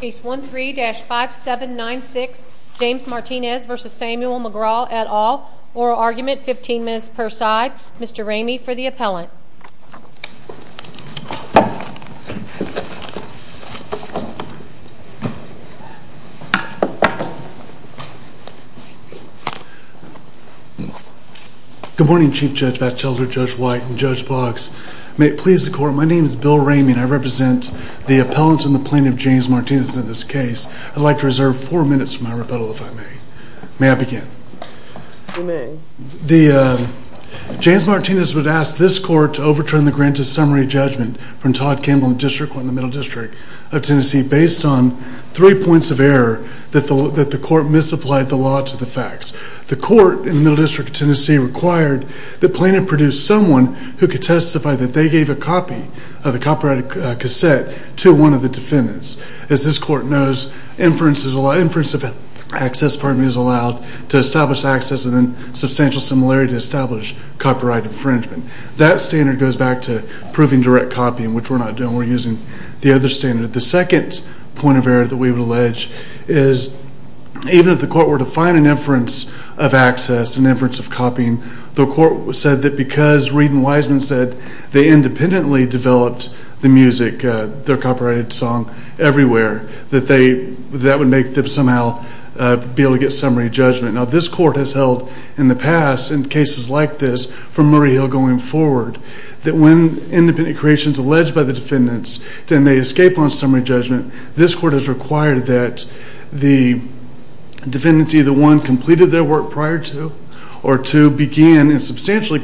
Case 13-5796 James Martinez v. Samuel McGraw et al. Oral argument, 15 minutes per side. Mr. Ramey for the appellant. Good morning Chief Judge Batchelder, Judge White and Judge Boggs. May it please the Court, my name is Bill Ramey and I represent the appellant and the plaintiff James Martinez in this case. I'd like to reserve four minutes from my rebuttal if I may. May I begin? You may. James Martinez would ask this court to overturn the granted summary judgment from Todd Campbell and District Court in the Middle District of Tennessee based on three points of error that the court misapplied the law to the facts. The court in the Middle District of Tennessee required the plaintiff produce someone who could testify that they gave a copy of the copyrighted cassette to one of the defendants. As this court knows, inference of access is allowed to establish access and then substantial similarity to establish copyright infringement. That standard goes back to proving direct copying which we're not doing, we're using the other standard. The second point of error that we would allege is even if the court were to find an inference of access, an inference of copying, the defendants either one completed their work prior to or two began and substantially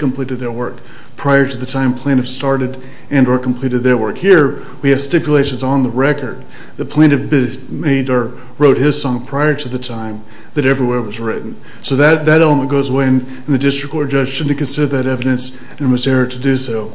started and or completed their work. Here we have stipulations on the record the plaintiff made or wrote his song prior to the time that every word was written. So that element goes away and the District Court judge shouldn't consider that evidence and was error to do so.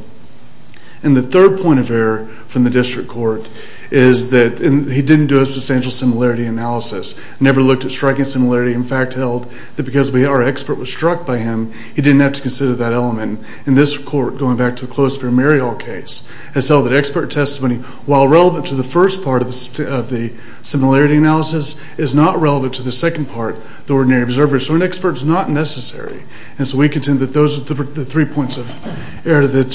And the third point of error from the District Court is that he didn't do a substantial similarity analysis, never looked at striking similarity, in fact held that because our expert was struck by him, he didn't have to consider that element. In this court, going back to close for Mary Hall case, it's held that expert testimony, while relevant to the first part of the similarity analysis, is not relevant to the second part, the ordinary observer. So an expert is not necessary and so we contend that those are the three points of error that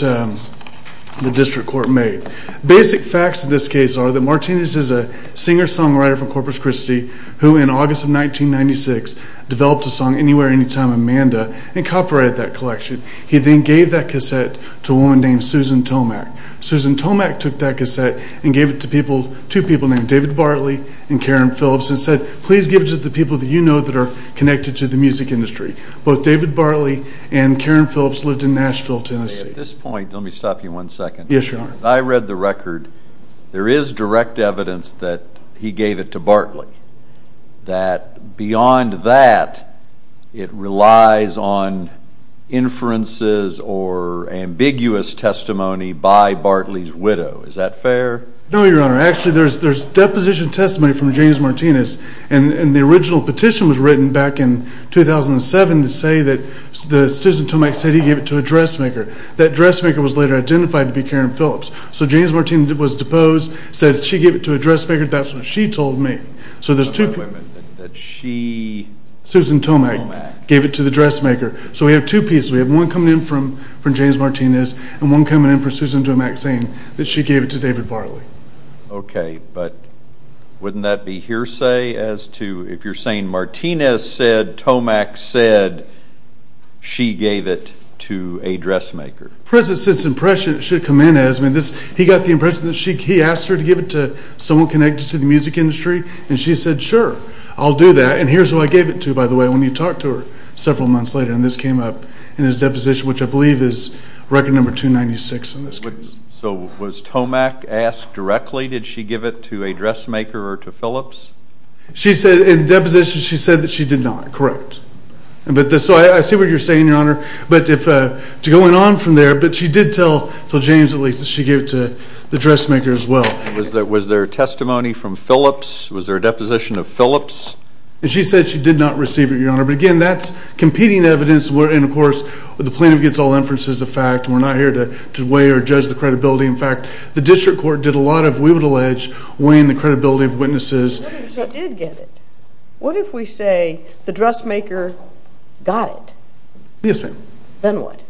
the District Court made. Basic facts in this case are that Martinez is a singer-songwriter from Corpus Christi who in August of 1996 developed a song, Anywhere, Anytime, Amanda and copyrighted that collection. He then gave that cassette to a woman named Susan Tomac. Susan Tomac took that cassette and gave it to people, two people named David Bartley and Karen Phillips and said, please give it to the people that you know that are connected to the music industry. Both David Bartley and Karen Phillips lived in Nashville, Tennessee. At this point, let me stop you one second. Yes, your honor. I read the record, there is direct evidence that he gave it to Bartley, that beyond that it relies on inferences or ambiguous testimony by Bartley's widow. Is that fair? No, your honor. Actually there's deposition testimony from James Martinez and the original petition was written back in 2007 to say that the Susan Tomac said he gave it to a dressmaker. That dressmaker was later identified to be Karen Phillips. So James Martinez was deposed, said she gave it to Susan Tomac gave it to the dressmaker. So we have two pieces. We have one coming in from James Martinez and one coming in from Susan Tomac saying that she gave it to David Bartley. Okay, but wouldn't that be hearsay as to if you're saying Martinez said, Tomac said, she gave it to a dressmaker. President's impression it should come in as, I mean he got the impression that he asked her to give it to someone connected to the music industry and she said, sure I'll do that and here's who I gave it to by the way, when you talked to her several months later and this came up in his deposition, which I believe is record number 296 in this case. So was Tomac asked directly, did she give it to a dressmaker or to Phillips? She said in deposition she said that she did not, correct. So I see what you're saying your honor, but if, to go on from there, but she did tell James at least that she gave it to the dressmaker as well. Was there testimony from Phillips? Was there a deposition of and she said she did not receive it your honor, but again that's competing evidence and of course the plaintiff gets all inferences of fact. We're not here to weigh or judge the credibility. In fact, the district court did a lot of, we would allege, weighing the credibility of witnesses. What if she did get it? What if we say the dressmaker got it? Yes ma'am. Then what?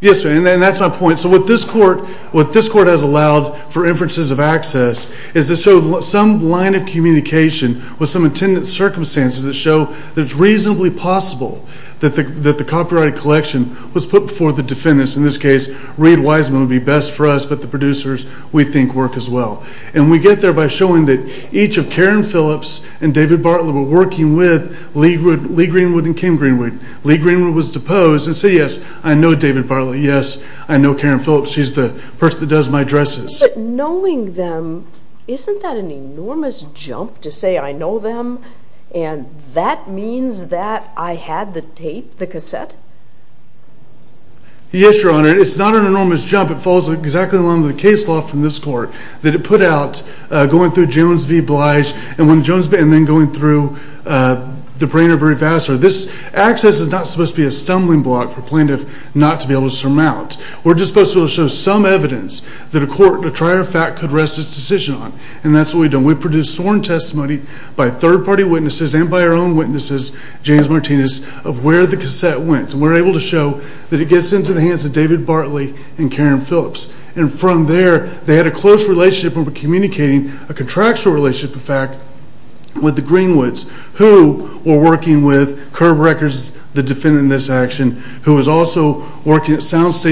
Yes ma'am and that's my point. So what this court, what this court has allowed for inferences of access is to show some line of communication with some attendant circumstances that show that it's reasonably possible that the copyrighted collection was put before the defendants. In this case Reid Wiseman would be best for us, but the producers we think work as well. And we get there by showing that each of Karen Phillips and David Bartlett were working with Lee Greenwood and Kim Greenwood. Lee Greenwood was deposed and said yes I know David Bartlett, yes I know Karen Phillips, she's the person that does my dresses. But knowing them, isn't that an enormous jump to say I know them and that means that I had the tape, the cassette? Yes your honor, it's not an enormous jump. It falls exactly along the case law from this court that it put out going through Jones v. Blige and when Jones, and then going through the brainer very fast, this access is not supposed to be a stumbling block for plaintiff not to be able to surmount. We're just supposed to show some evidence that a court, a trier of fact, could rest its decision on. And that's what we've done. We've produced sworn testimony by third-party witnesses and by our own witnesses, James Martinez, of where the cassette went. We're able to show that it gets into the hands of David Bartlett and Karen Phillips. And from there they had a close relationship and were communicating a contractual relationship, in fact, with the Greenwoods who were working with Curb Records, the defendant in this action, who was also working at When this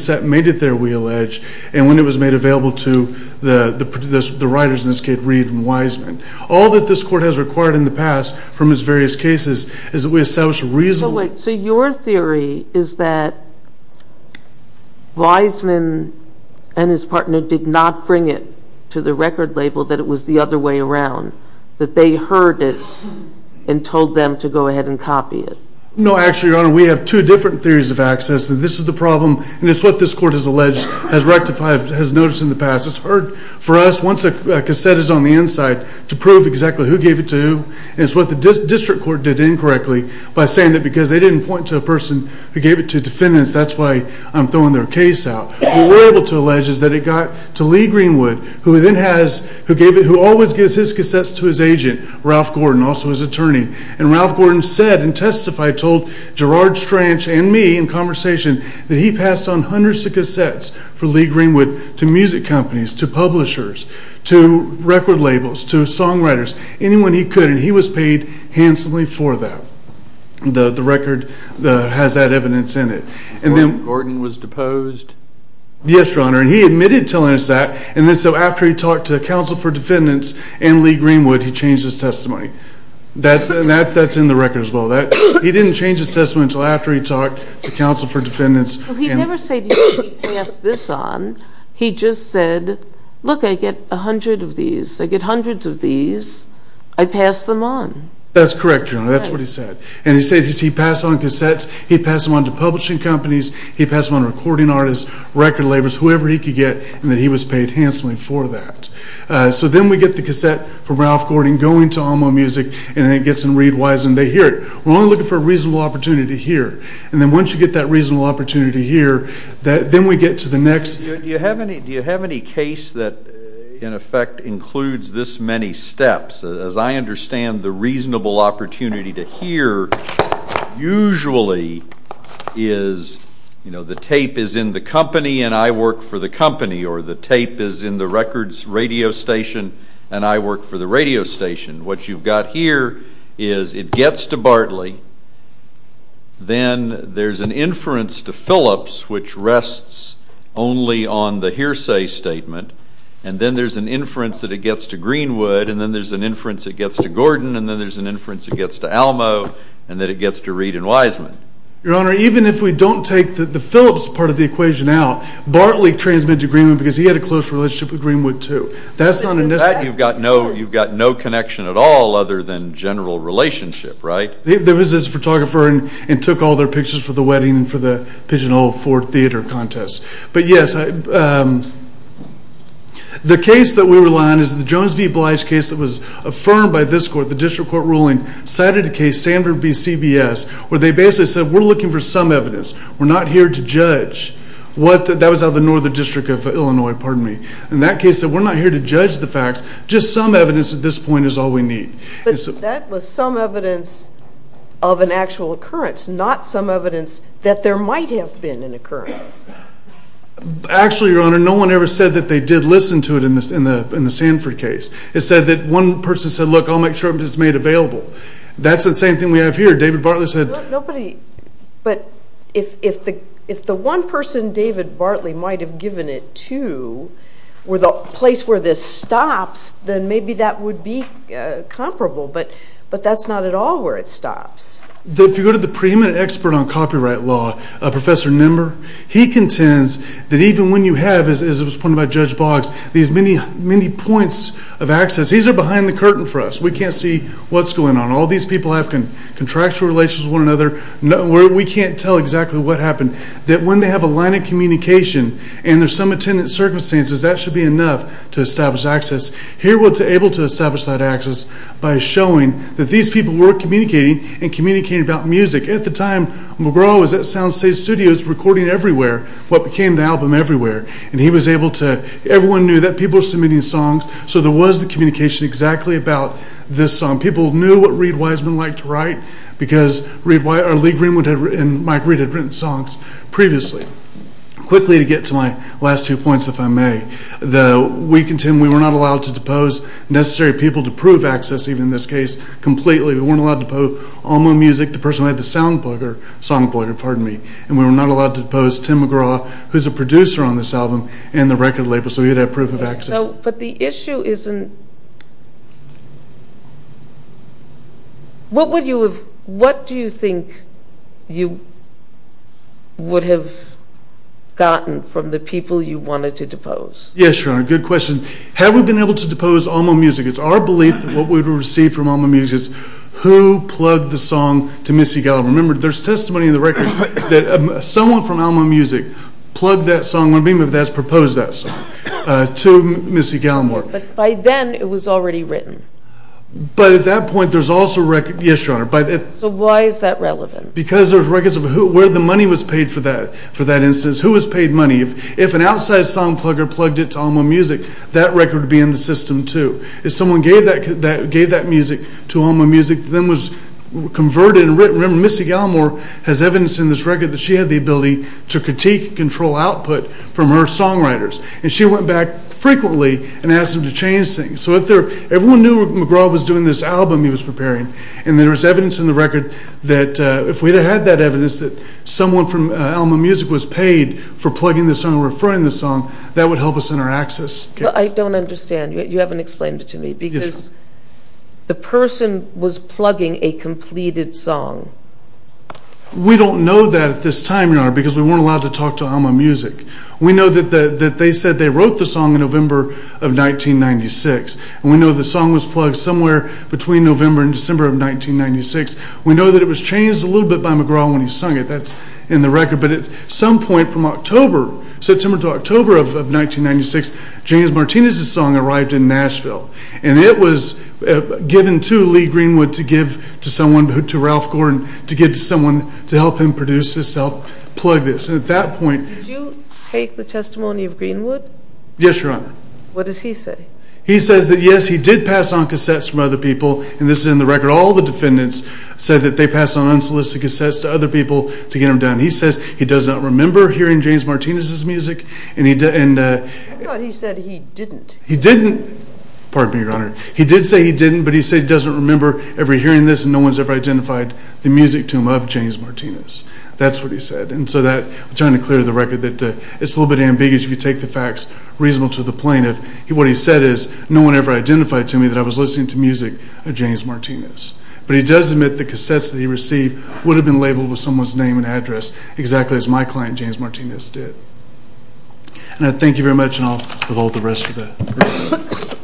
cassette made it there, we allege, and when it was made available to the writers in this case, Reid and Wiseman. All that this court has required in the past from its various cases is that we establish a reasonable... So wait, so your theory is that Wiseman and his partner did not bring it to the record label that it was the other way around. That they heard it and told them to go ahead and copy it. No, actually your honor, we have two different theories of access. That this is the problem, and it's what this court has alleged, has rectified, has noticed in the past. It's hard for us, once a cassette is on the inside, to prove exactly who gave it to who. And it's what the district court did incorrectly by saying that because they didn't point to a person who gave it to defendants, that's why I'm throwing their case out. What we're able to allege is that it got to Lee Greenwood, who then has, who gave it, who always gives his cassettes to his agent, Ralph Gordon, also his attorney. And Ralph Gordon said and testified, told Gerard Stranch and me in conversation, that he passed on hundreds of cassettes for Lee Greenwood to music companies, to publishers, to record labels, to songwriters, anyone he could, and he was paid handsomely for that. The record has that evidence in it. And then... Gordon was deposed? Yes, your honor, and he admitted telling us that, and then so after he talked to counsel for defendants and Lee Greenwood, he changed his testimony. That's in the record as well. He didn't change his testimony until after he talked to counsel for defendants. He never said he passed this on, he just said, look I get a hundred of these, I get hundreds of these, I pass them on. That's correct your honor, that's what he said. And he said he passed on cassettes, he passed them on to publishing companies, he passed them on to recording artists, record labels, whoever he could get, and that he was paid handsomely for that. So then we get the cassette from Ralph Gordon going to Alamo Music, and it gets in Reid Wiseman, they hear it. We're only looking for a reasonable opportunity here, and then once you get that reasonable opportunity here, then we get to the next... Do you have any case that in effect includes this many steps? As I understand the reasonable opportunity to hear usually is, you know, the tape is in the company and I work for the company, or the tape is in the records radio station, and I work for the radio station. What you've got here is it gets to Bartley, then there's an inference to Phillips which rests only on the hearsay statement, and then there's an inference that it gets to Greenwood, and then there's an inference it gets to Gordon, and then there's an inference it gets to Alamo, and then it gets to Reid and Wiseman. Your honor, even if we don't take the Phillips part of the equation out, Bartley transmitted to Greenwood because he had a close relationship with Greenwood too. That's not a... That, you've got no connection at all other than general relationship, right? There was this photographer and took all their pictures for the wedding and for the Pigeonhole Ford theater contest. But yes, the case that we rely on is the Jones v. Bly's case that was affirmed by this court, the district court ruling, cited a case Sanford v. CBS, where they basically said we're looking for some evidence. We're not here to judge. That was out of the Northern District of Illinois, pardon me. In that case, we're not here to judge the facts. Just some evidence at this point is all we need. But that was some evidence of an actual occurrence, not some evidence that there might have been an occurrence. Actually, your honor, no one ever said that they did listen to it in the Sanford case. It said that one person said, look, I'll make sure it's made available. That's the same thing we have here. David Bartley said... Nobody... But if the one person David Bartley might have given it to were the place where this stops, then maybe that would be comparable. But that's not at all where it stops. If you go to the preeminent expert on copyright law, Professor Nimmer, he contends that even when you have, as was pointed by Judge Boggs, these many points of access, these are behind the curtain for us. We can't see what's going on. All these people have contractual relations with one another. We can't tell exactly what happened. That when they have a line of communication and there's some attendant circumstances, that should be enough to establish access. Here we're able to establish that access by showing that these people were communicating and communicating about music. At the time, McGraw was at Soundstage Studios recording Everywhere, what became the album Everywhere. And he was able to... Everyone knew that people were submitting songs, so there was the communication exactly about this song. People knew what Reid Wiseman liked to sing. Mike Reid had written songs previously. Quickly to get to my last two points, if I may. We were not allowed to depose necessary people to prove access, even in this case, completely. We weren't allowed to depose all music. The person who had the song book, pardon me, and we were not allowed to depose Tim McGraw, who's a producer on this album, and the record label, so we had to have proof of access. But the issue isn't... What would you have... What do you think you would have gotten from the people you wanted to depose? Yes, Sharon, good question. Have we been able to depose Alma Music? It's our belief that what we would receive from Alma Music is who plugged the song to Missy Gallimore? Remember, there's testimony in the record that someone from Alma Music plugged that song, one of the people who proposed that song, to Missy Gallimore. But by then it was already written. But at that point there's also a record... Yes, Sharon. But why is that relevant? Because there's records of who, where the money was paid for that, for that instance, who has paid money. If an outside song plugger plugged it to Alma Music, that record would be in the system too. If someone gave that music to Alma Music, then was converted and written. Remember, Missy Gallimore has evidence in this record that she had the ability to critique and control output from her songwriters, and she went back frequently and asked them to change things. So if they're... McGraw was doing this album he was preparing, and there was evidence in the record that if we had that evidence that someone from Alma Music was paid for plugging the song or referring the song, that would help us in our access case. I don't understand. You haven't explained it to me, because the person was plugging a completed song. We don't know that at this time, Your Honor, because we weren't allowed to talk to Alma Music. We know that they said they wrote the plug somewhere between November and December of 1996. We know that it was changed a little bit by McGraw when he sung it. That's in the record, but at some point from October, September to October of 1996, James Martinez's song arrived in Nashville, and it was given to Lee Greenwood to give to someone, to Ralph Gordon, to get someone to help him produce this, to help plug this, and at that point... Did you take the testimony of Greenwood? Yes, Your Honor. What does he say? He says that he did pass on cassettes from other people, and this is in the record. All the defendants said that they passed on unsolicited cassettes to other people to get them done. He says he does not remember hearing James Martinez's music, and he... I thought he said he didn't. He didn't. Pardon me, Your Honor. He did say he didn't, but he said he doesn't remember ever hearing this, and no one's ever identified the music to him of James Martinez. That's what he said, and so that... I'm trying to clear the record that it's a little bit ambiguous if you take the facts reasonable to the plaintiff. What he said is, no one ever identified to me that I was listening to music of James Martinez, but he does admit the cassettes that he received would have been labeled with someone's name and address, exactly as my client, James Martinez, did. And I thank you very much, and I'll revoke the rest of the record.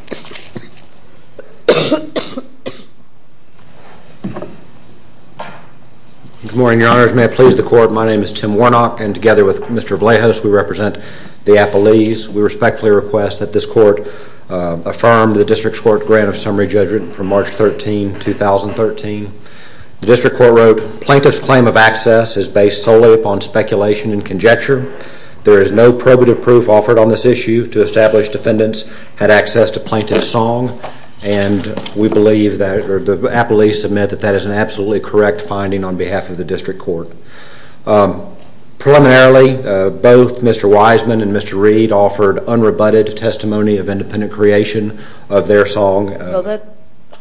Good morning, Your Honors. May it please the Court, my name is Tim Warnock, and together with Mr. Vallejos, we represent the District Court, affirmed the District Court Grant of Summary Judgment from March 13, 2013. The District Court wrote, plaintiff's claim of access is based solely upon speculation and conjecture. There is no probative proof offered on this issue to establish defendants had access to plaintiff's song, and we believe that, or the apologies submit that that is an absolutely correct finding on behalf of the District Court. Preliminarily, both Mr. Wiseman and Mr. Reed offered unrebutted testimony of independent creation of their song. Well, that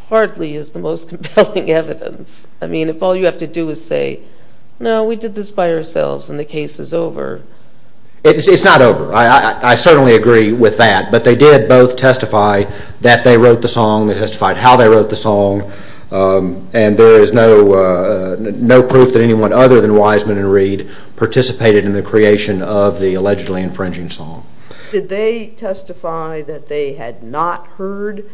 hardly is the most compelling evidence. I mean, if all you have to do is say, no, we did this by ourselves and the case is over. It's not over. I certainly agree with that, but they did both testify that they wrote the song, they testified how they wrote the song, and there is no proof that anyone other than Wiseman and Reed participated in the creation of the allegedly infringing song. Did they testify that they had not heard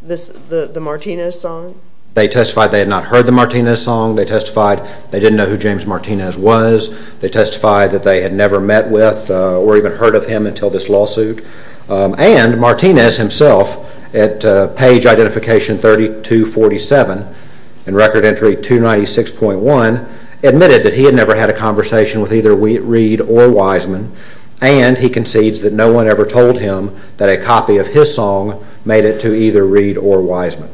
the Martinez song? They testified they had not heard the Martinez song, they testified they didn't know who James Martinez was, they testified that they had never met with or even heard of him until this lawsuit, and Martinez himself, at page identification 3247, in record entry 296.1, admitted that he had never had a conversation with either Reed or Wiseman, and he concedes that no one ever told him that a copy of his song made it to either Reed or Wiseman.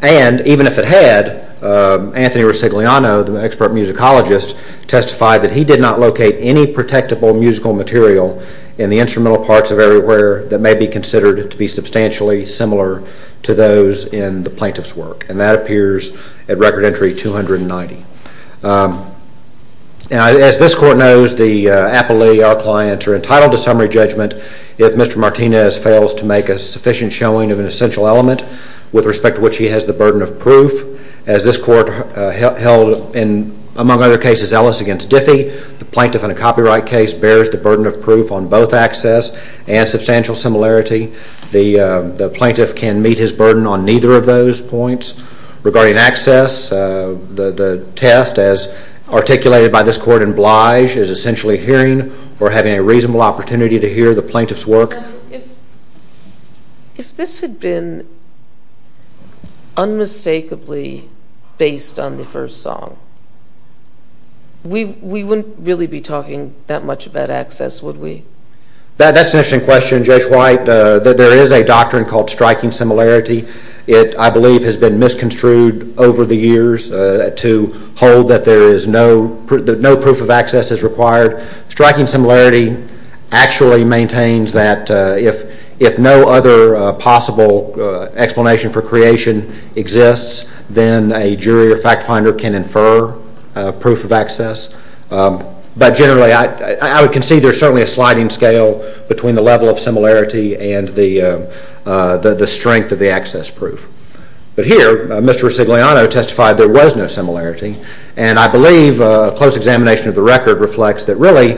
And, even if it had, Anthony Ricigliano, the expert musicologist, testified that he did not locate any protectable musical material in the instrumental parts of Everywhere that may be considered to be substantially similar to those in the plaintiff's work, and that appears at record entry 290. As this court knows, the appellee, our client, are entitled to summary judgment if Mr. Martinez fails to make a sufficient showing of an essential element with respect to which he has the burden of proof. As this court held, among other cases, Ellis against Diffie, the plaintiff in a copyright case bears the burden of proof on both access and substantial similarity. The plaintiff can meet his burden on neither of those points. Regarding access, the test, as articulated by this court in Blige, is essentially hearing or having a reasonable opportunity to hear the plaintiff's work. If this had been unmistakably based on the first song, we wouldn't really be talking that much about access, would we? That's an interesting question, Judge White. There is a doctrine called striking similarity. It, I believe, has been misconstrued over the years to hold that no proof of access is required. Striking similarity actually maintains that if no other possible explanation for creation exists, then a jury or fact finder can infer proof of access. But generally, I would concede there's certainly a sliding scale between the level of similarity and the strength of the access proof. But here, Mr. Sigliano testified there was no similarity, and I believe a close examination of the record reflects that really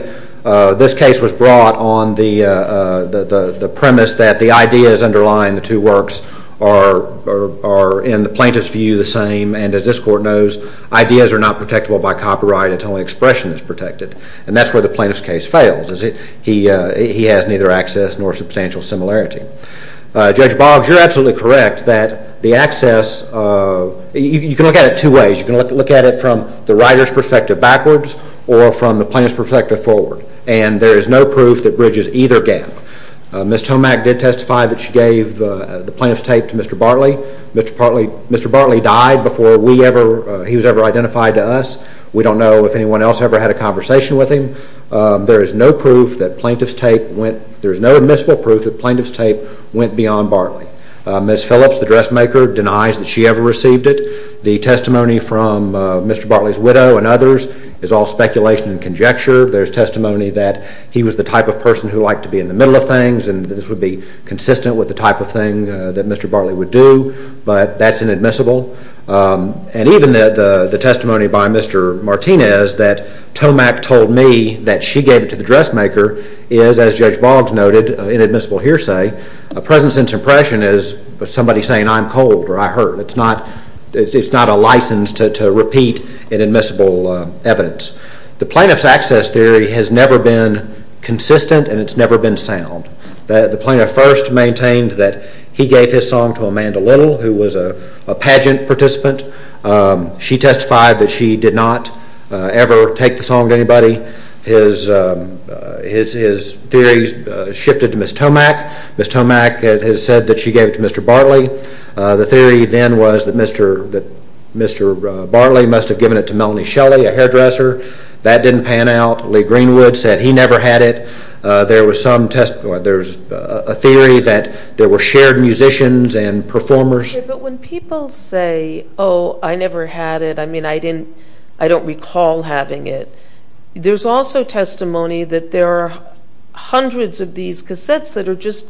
this case was brought on the premise that the ideas underlying the two works are, in the plaintiff's view, the same, and as this court knows, ideas are not protectable by copyright. It's only expression that's protected, and that's where the plaintiff's case fails. He has neither access nor substantial similarity. Judge Boggs, you're absolutely correct that the access, you can look at it two ways. You can look at it from the writer's perspective backwards or from the plaintiff's perspective forward, and there is no proof that bridges either gap. Ms. Tomac did testify that she gave the plaintiff's tape to Mr. Bartley. Mr. Bartley died before he was ever identified to us. We don't know if anyone else ever had a conversation with him. There is no admissible proof that plaintiff's tape went beyond Bartley. Ms. Phillips, the dressmaker, denies that she ever received it. The testimony from Mr. Bartley's widow and others is all speculation and conjecture. There's testimony that he was the type of person who liked to be in the middle of things, and this would be consistent with the type of thing that Mr. Bartley would do, but that's inadmissible, and even the testimony by Mr. Martinez that Tomac told me that she gave it to the dressmaker is, as Judge Boggs noted, inadmissible hearsay. A present sense impression is somebody saying, I'm cold or I hurt. It's not a license to repeat inadmissible evidence. The plaintiff's access theory has never been consistent and it's never been sound. The plaintiff first maintained that he gave his song to Amanda Little, who was a pageant participant. She testified that she did not ever take the song to anybody. His theories shifted to Ms. Tomac. Ms. Tomac has said that she gave it to Mr. Bartley. The theory then was that Mr. Bartley must have given it to Melanie Shelley, a hairdresser. That didn't pan out. Lee Greenwood said he never had it. There was a theory that there were shared musicians and performers. But when people say, oh, I never had it, I mean, I don't recall having it, there's also testimony that there are hundreds of these cassettes that are just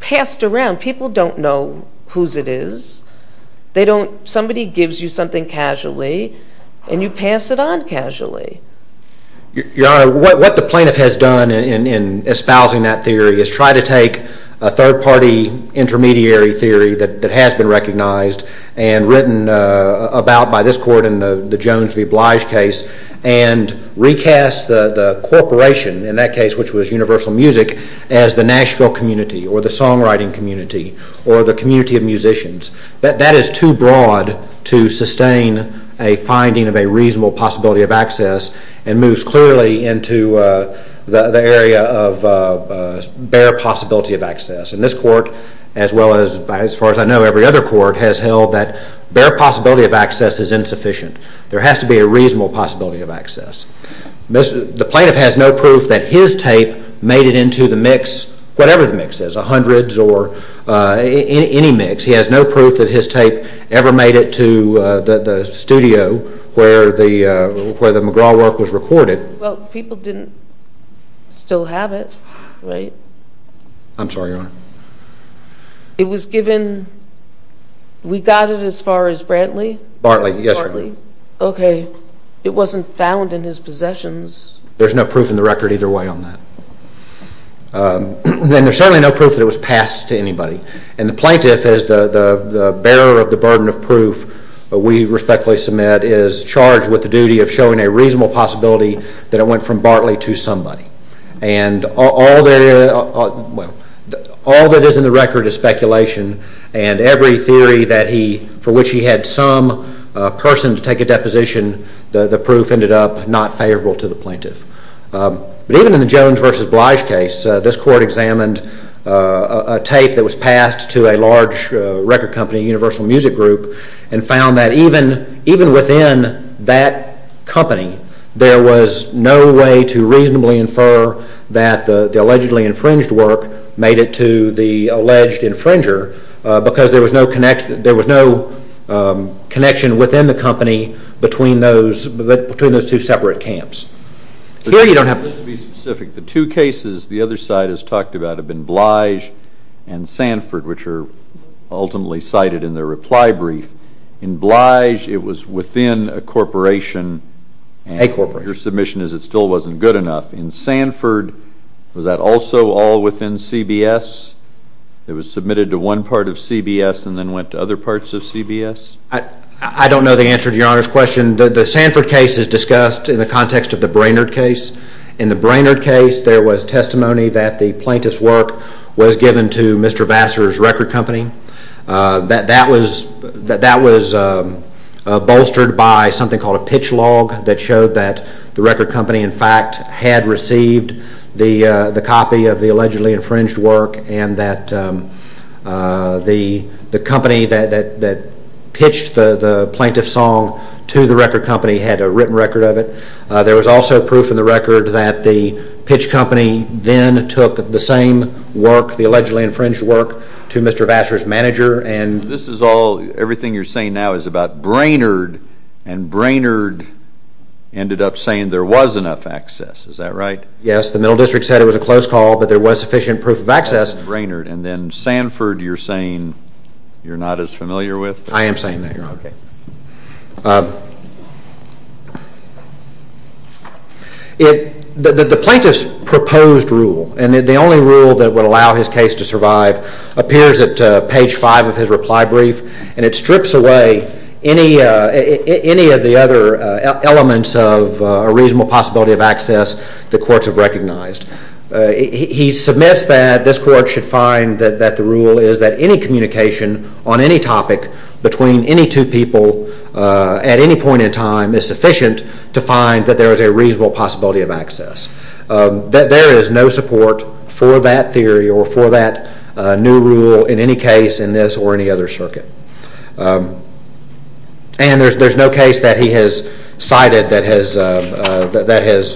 passed around. People don't know whose it is. Somebody gives you something casually and you pass it on casually. Your Honor, what the plaintiff has done in espousing that theory is try to take a third-party intermediary theory that has been recognized and written about by this court in the Jones v. Blige case and recast the corporation, in that case which was Universal Music, as the Nashville community or the songwriting community or the community of musicians. That is too broad to sustain a finding of a reasonable possibility of access and moves clearly into the area of bare possibility of access. And this court, as well as, as far as I know, every other court has held that bare possibility of access is insufficient. There has to be a reasonable possibility of access. The plaintiff has no proof that his tape made it into the mix, whatever the mix is, a hundreds or any mix. He has no proof that his tape ever made it to the studio where the McGraw work was recorded. Well, people didn't still have it, right? I'm sorry, Your Honor. It was given, we got it as far as Brantley? Brantley, yes, Your Honor. Okay, it wasn't found in his possessions. There's no proof in the record either way on that. And there's certainly no proof that it was passed to anybody. And the plaintiff, as the bearer of the burden of proof we respectfully submit, is charged with the duty of showing a reasonable possibility that it went from Brantley to somebody. And all that is in the record is speculation and every theory for which he had some person to take a deposition, the proof ended up not favorable to the plaintiff. But even in the Jones v. Blige case, this court examined a tape that was passed to a large record company, Universal Music Group, and found that even within that company there was no way to reasonably infer that the allegedly infringed work made it to the alleged infringer because there was no connection within the company between those two separate camps. Just to be specific, the two cases the other side has talked about have been Blige and Sanford, which are ultimately cited in their reply brief. In Blige it was within a corporation. A corporation. And your submission is it still wasn't good enough. In Sanford, was that also all within CBS? It was submitted to one part of CBS and then went to other parts of CBS? I don't know the answer to your Honor's question. The Sanford case is discussed in the context of the Brainerd case. In the Brainerd case there was testimony that the plaintiff's work was given to Mr. Vassar's record company. That was bolstered by something called a pitch log that showed that the record company in fact had received the copy of the allegedly infringed work and that the company that pitched the plaintiff's song to the record company had a written record of it. There was also proof in the record that the pitch company then took the same work, the allegedly infringed work, to Mr. Vassar's manager. This is all, everything you're saying now is about Brainerd and Brainerd ended up saying there was enough access, is that right? Yes, the Middle District said it was a close call but there was sufficient proof of access. And then Sanford you're saying you're not as familiar with? I am saying that, Your Honor. The plaintiff's proposed rule, and the only rule that would allow his case to survive, appears at page 5 of his reply brief and it strips away any of the other elements of a reasonable possibility of access the courts have recognized. He submits that this court should find that the rule is that any communication on any topic between any two people at any point in time is sufficient to find that there is a reasonable possibility of access. There is no support for that theory or for that new rule in any case in this or any other circuit. And there's no case that he has cited that has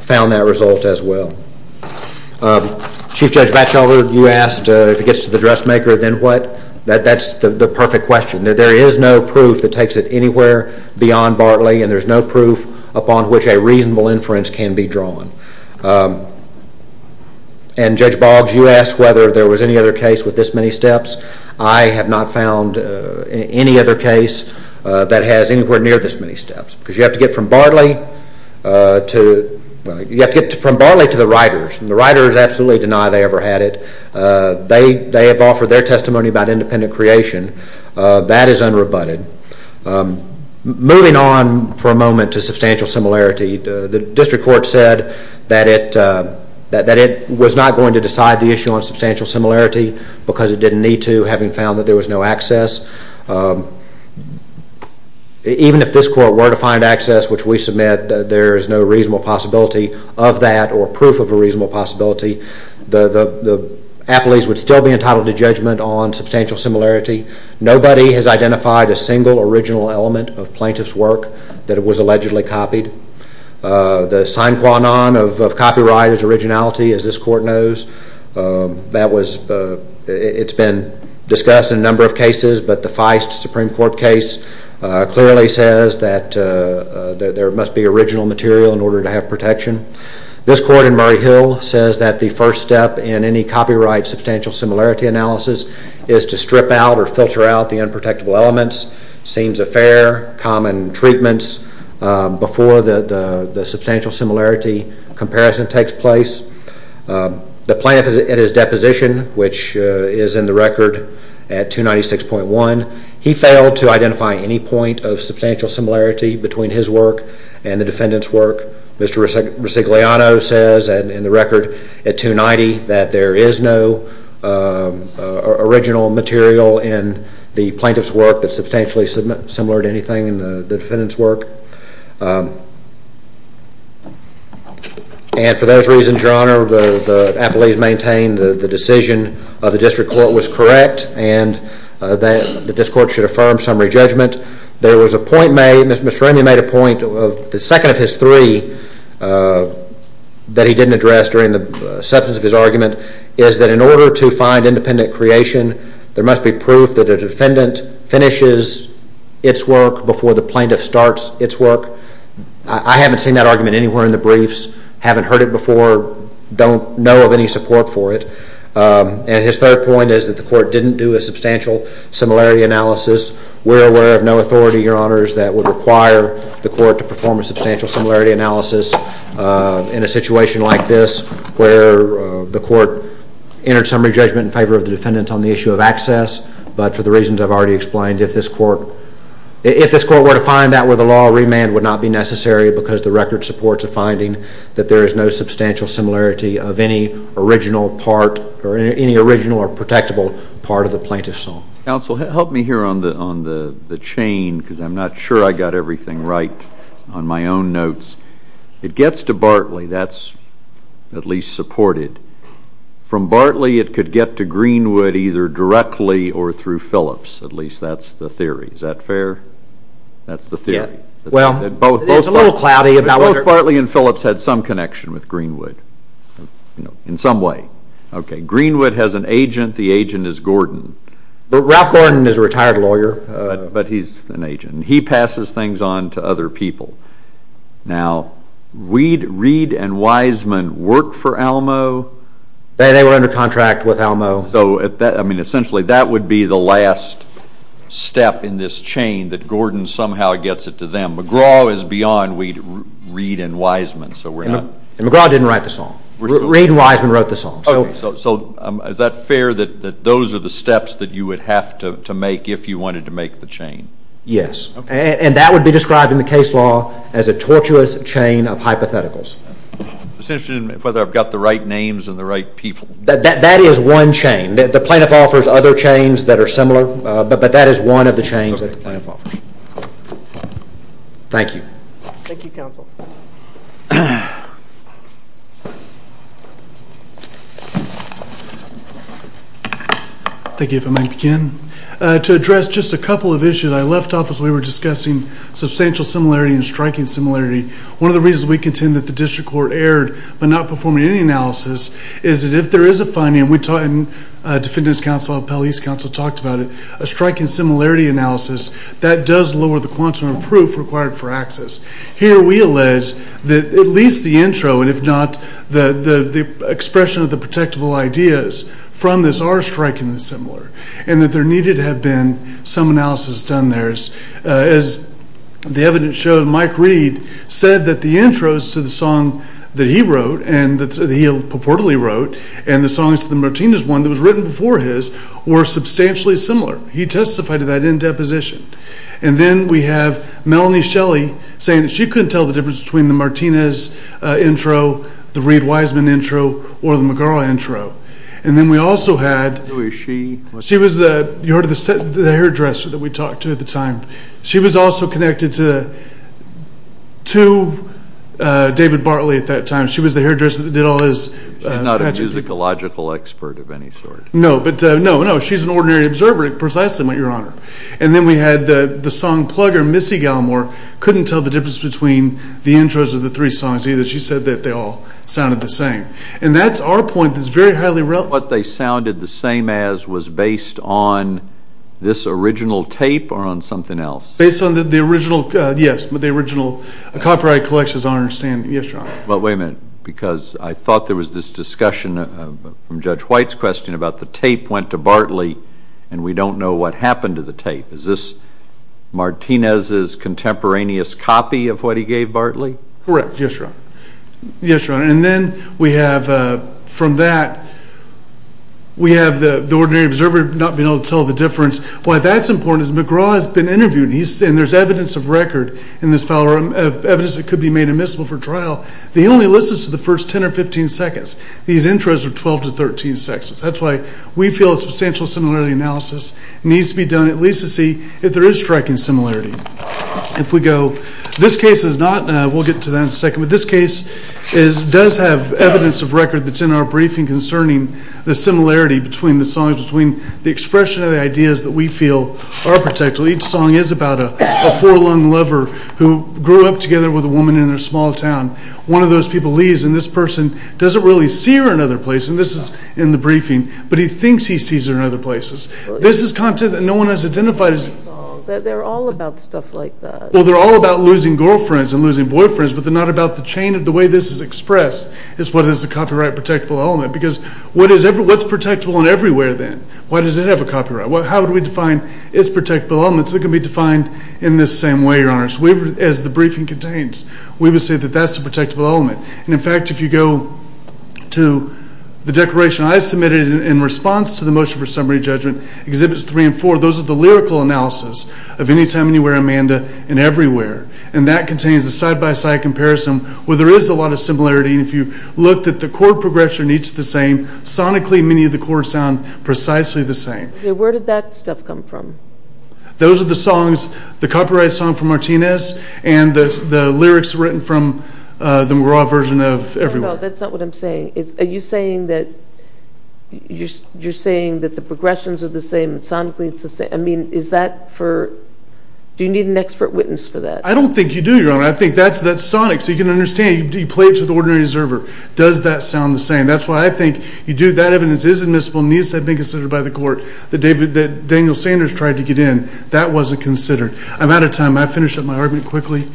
found that result as well. Chief Judge Batchelder, you asked if it gets to the dressmaker then what? That's the perfect question. There is no proof that takes it anywhere beyond Bartley and there's no proof upon which a reasonable inference can be drawn. And Judge Boggs, you asked whether there was any other case with this many steps. I have not found any other case that has anywhere near this many steps. Because you have to get from Bartley to the writers and the writers absolutely deny they ever had it. They have offered their testimony about independent creation. That is unrebutted. Moving on for a moment to substantial similarity. The district court said that it was not going to decide the issue on substantial similarity because it didn't need to having found that there was no access. Even if this court were to find access which we submit that there is no reasonable possibility of that or proof of a reasonable possibility, the appellees would still be entitled to judgment on substantial similarity. Nobody has identified a single original element of plaintiff's work that was allegedly copied. The sine qua non of copyright is originality as this court knows. It's been discussed in a number of cases but the Feist Supreme Court case clearly says that there must be original material in order to have protection. This court in Murray Hill says that the first step in any copyright substantial similarity analysis is to strip out or filter out the unprotectable elements, scenes of fare, common treatments before the substantial similarity comparison takes place. The plaintiff in his deposition which is in the record at 296.1, he failed to identify any point of substantial similarity between his work and the defendant's work. Mr. Resigliano says in the record at 290 that there is no original material in the plaintiff's work that's substantially similar to anything in the defendant's work. And for those reasons, Your Honor, the appellees maintain the decision of the district court was correct and that this court should affirm summary judgment. There was a point made, Mr. Ramey made a point, the second of his three that he didn't address during the substance of his argument is that in order to find independent creation, there must be proof that a defendant finishes its work before the plaintiff starts its work. I haven't seen that argument anywhere in the briefs, haven't heard it before, don't know of any support for it. And his third point is that the court didn't do a substantial similarity analysis. We're aware of no authority, Your Honors, that would require the court to perform a substantial similarity analysis in a situation like this where the court entered summary judgment in favor of the defendant on the issue of access, but for the reasons I've already explained, if this court were to find that were the law remand would not be necessary because the record supports a finding that there is no substantial similarity of any original part or any original or protectable part of the plaintiff's song. Counsel, help me here on the chain because I'm not sure I got everything right on my own notes. It gets to Bartley, that's at least supported. From Bartley it could get to Greenwood either directly or through Phillips, at least that's the theory. Is that fair? That's the theory. Well, it's a little cloudy. Both Bartley and Phillips had some connection with Greenwood, in some way. Okay, Greenwood has an agent, the agent is Gordon. Ralph Gordon is a retired lawyer. But he's an agent. He passes things on to other people. Now, Reed and Wiseman work for Alamo? They were under contract with Alamo. So essentially that would be the last step in this chain that Gordon somehow gets it to them. McGraw is beyond Reed and Wiseman. Reed and Wiseman wrote the song. So is that fair that those are the steps that you would have to make if you wanted to make the chain? Yes. And that would be described in the case law as a tortuous chain of hypotheticals. It's interesting whether I've got the right names and the right people. That is one chain. The plaintiff offers other chains that are similar, but that is one of the chains that the plaintiff offers. Thank you. Thank you, Counsel. Thank you. If I may begin. To address just a couple of issues I left off as we were discussing substantial similarity and striking similarity. One of the reasons we contend that the district court erred by not performing any analysis is that if there is a finding, and we talked, and Defendant's Counsel and Appellee's Counsel talked about it, a striking similarity analysis, that does lower the quantum of proof required for access. Here we allege that at least the intro, and if not the expression of the protectable ideas from this, are strikingly similar, and that there needed to have been some analysis done there. As the evidence showed, Mike Reed said that the intros to the song that he wrote, and that he purportedly wrote, and the songs to the Martinez one that was written before his, were substantially similar. He testified to that in deposition. And then we have Melanie Shelley saying that she couldn't tell the difference between the Martinez intro, the Reed-Wiseman intro, or the McGarrel intro. And then we also had. Who is she? She was the, you heard of the hairdresser that we talked to at the time. She was also connected to David Bartley at that time. She was the hairdresser that did all his. She's not a musicological expert of any sort. No, but, no, no. She's an ordinary observer, precisely, Your Honor. And then we had the song plugger, Missy Gallimore, couldn't tell the difference between the intros of the three songs either. She said that they all sounded the same. And that's our point that's very highly relevant. What they sounded the same as was based on this original tape or on something else? Based on the original, yes, the original copyright collection, as I understand. Yes, Your Honor. But wait a minute, because I thought there was this discussion from Judge White's question about the tape went to Bartley and we don't know what happened to the tape. Is this Martinez's contemporaneous copy of what he gave Bartley? Correct, yes, Your Honor. Yes, Your Honor. And then we have, from that, we have the ordinary observer not being able to tell the difference. Why that's important is McGraw has been interviewed, and there's evidence of record in this file or evidence that could be made admissible for trial. He only listens to the first 10 or 15 seconds. These intros are 12 to 13 seconds. That's why we feel a substantial similarity analysis needs to be done, at least to see if there is striking similarity. If we go, this case is not, and we'll get to that in a second, but this case does have evidence of record that's in our briefing concerning the similarity between the songs, between the expression of the ideas that we feel are protected. Each song is about a four-lung lover who grew up together with a woman in their small town. One of those people leaves, and this person doesn't really see her in another place. And this is in the briefing, but he thinks he sees her in other places. This is content that no one has identified. They're all about stuff like that. Well, they're all about losing girlfriends and losing boyfriends, but they're not about the chain of the way this is expressed is what is the copyright protectable element, because what's protectable in every way then? Why does it have a copyright? How do we define its protectable elements? They can be defined in this same way, Your Honor. As the briefing contains, we would say that that's the protectable element. And, in fact, if you go to the declaration I submitted in response to the motion for summary judgment, Exhibits 3 and 4, those are the lyrical analysis of Anytime, Anywhere, Amanda and Everywhere, and that contains a side-by-side comparison where there is a lot of similarity. And if you look, the chord progression is the same. Sonically, many of the chords sound precisely the same. Where did that stuff come from? Those are the songs, the copyright song from Martinez and the lyrics written from the McGraw version of Everywhere. No, no, that's not what I'm saying. Are you saying that the progressions are the same? Sonically, it's the same. I mean, do you need an expert witness for that? I don't think you do, Your Honor. I think that's sonic, so you can understand. You play it to the ordinary observer. Does that sound the same? That's why I think you do. That evidence is admissible and needs to have been considered by the court. That Daniel Sanders tried to get in, that wasn't considered. I'm out of time. I finished up my argument quickly.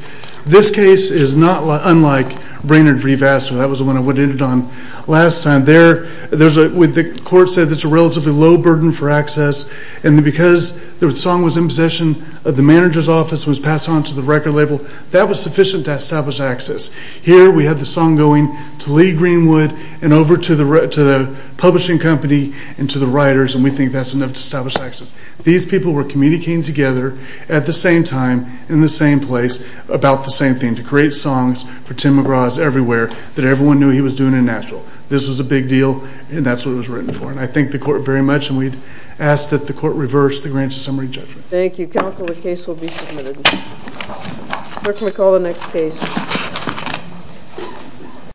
This case is not unlike Brainerd v. Vassar. That was the one I ended on last time. The court said it's a relatively low burden for access, and because the song was in possession of the manager's office and was passed on to the record label, that was sufficient to establish access. Here we have the song going to Lee Greenwood and over to the publishing company and to the writers, and we think that's enough to establish access. These people were communicating together at the same time, in the same place, about the same thing, to create songs for Tim McGraw's everywhere that everyone knew he was doing in Nashville. This was a big deal, and that's what it was written for, and I thank the court very much, and we ask that the court reverse the grant's summary judgment. Thank you. Counsel, the case will be submitted. Court may call the next case.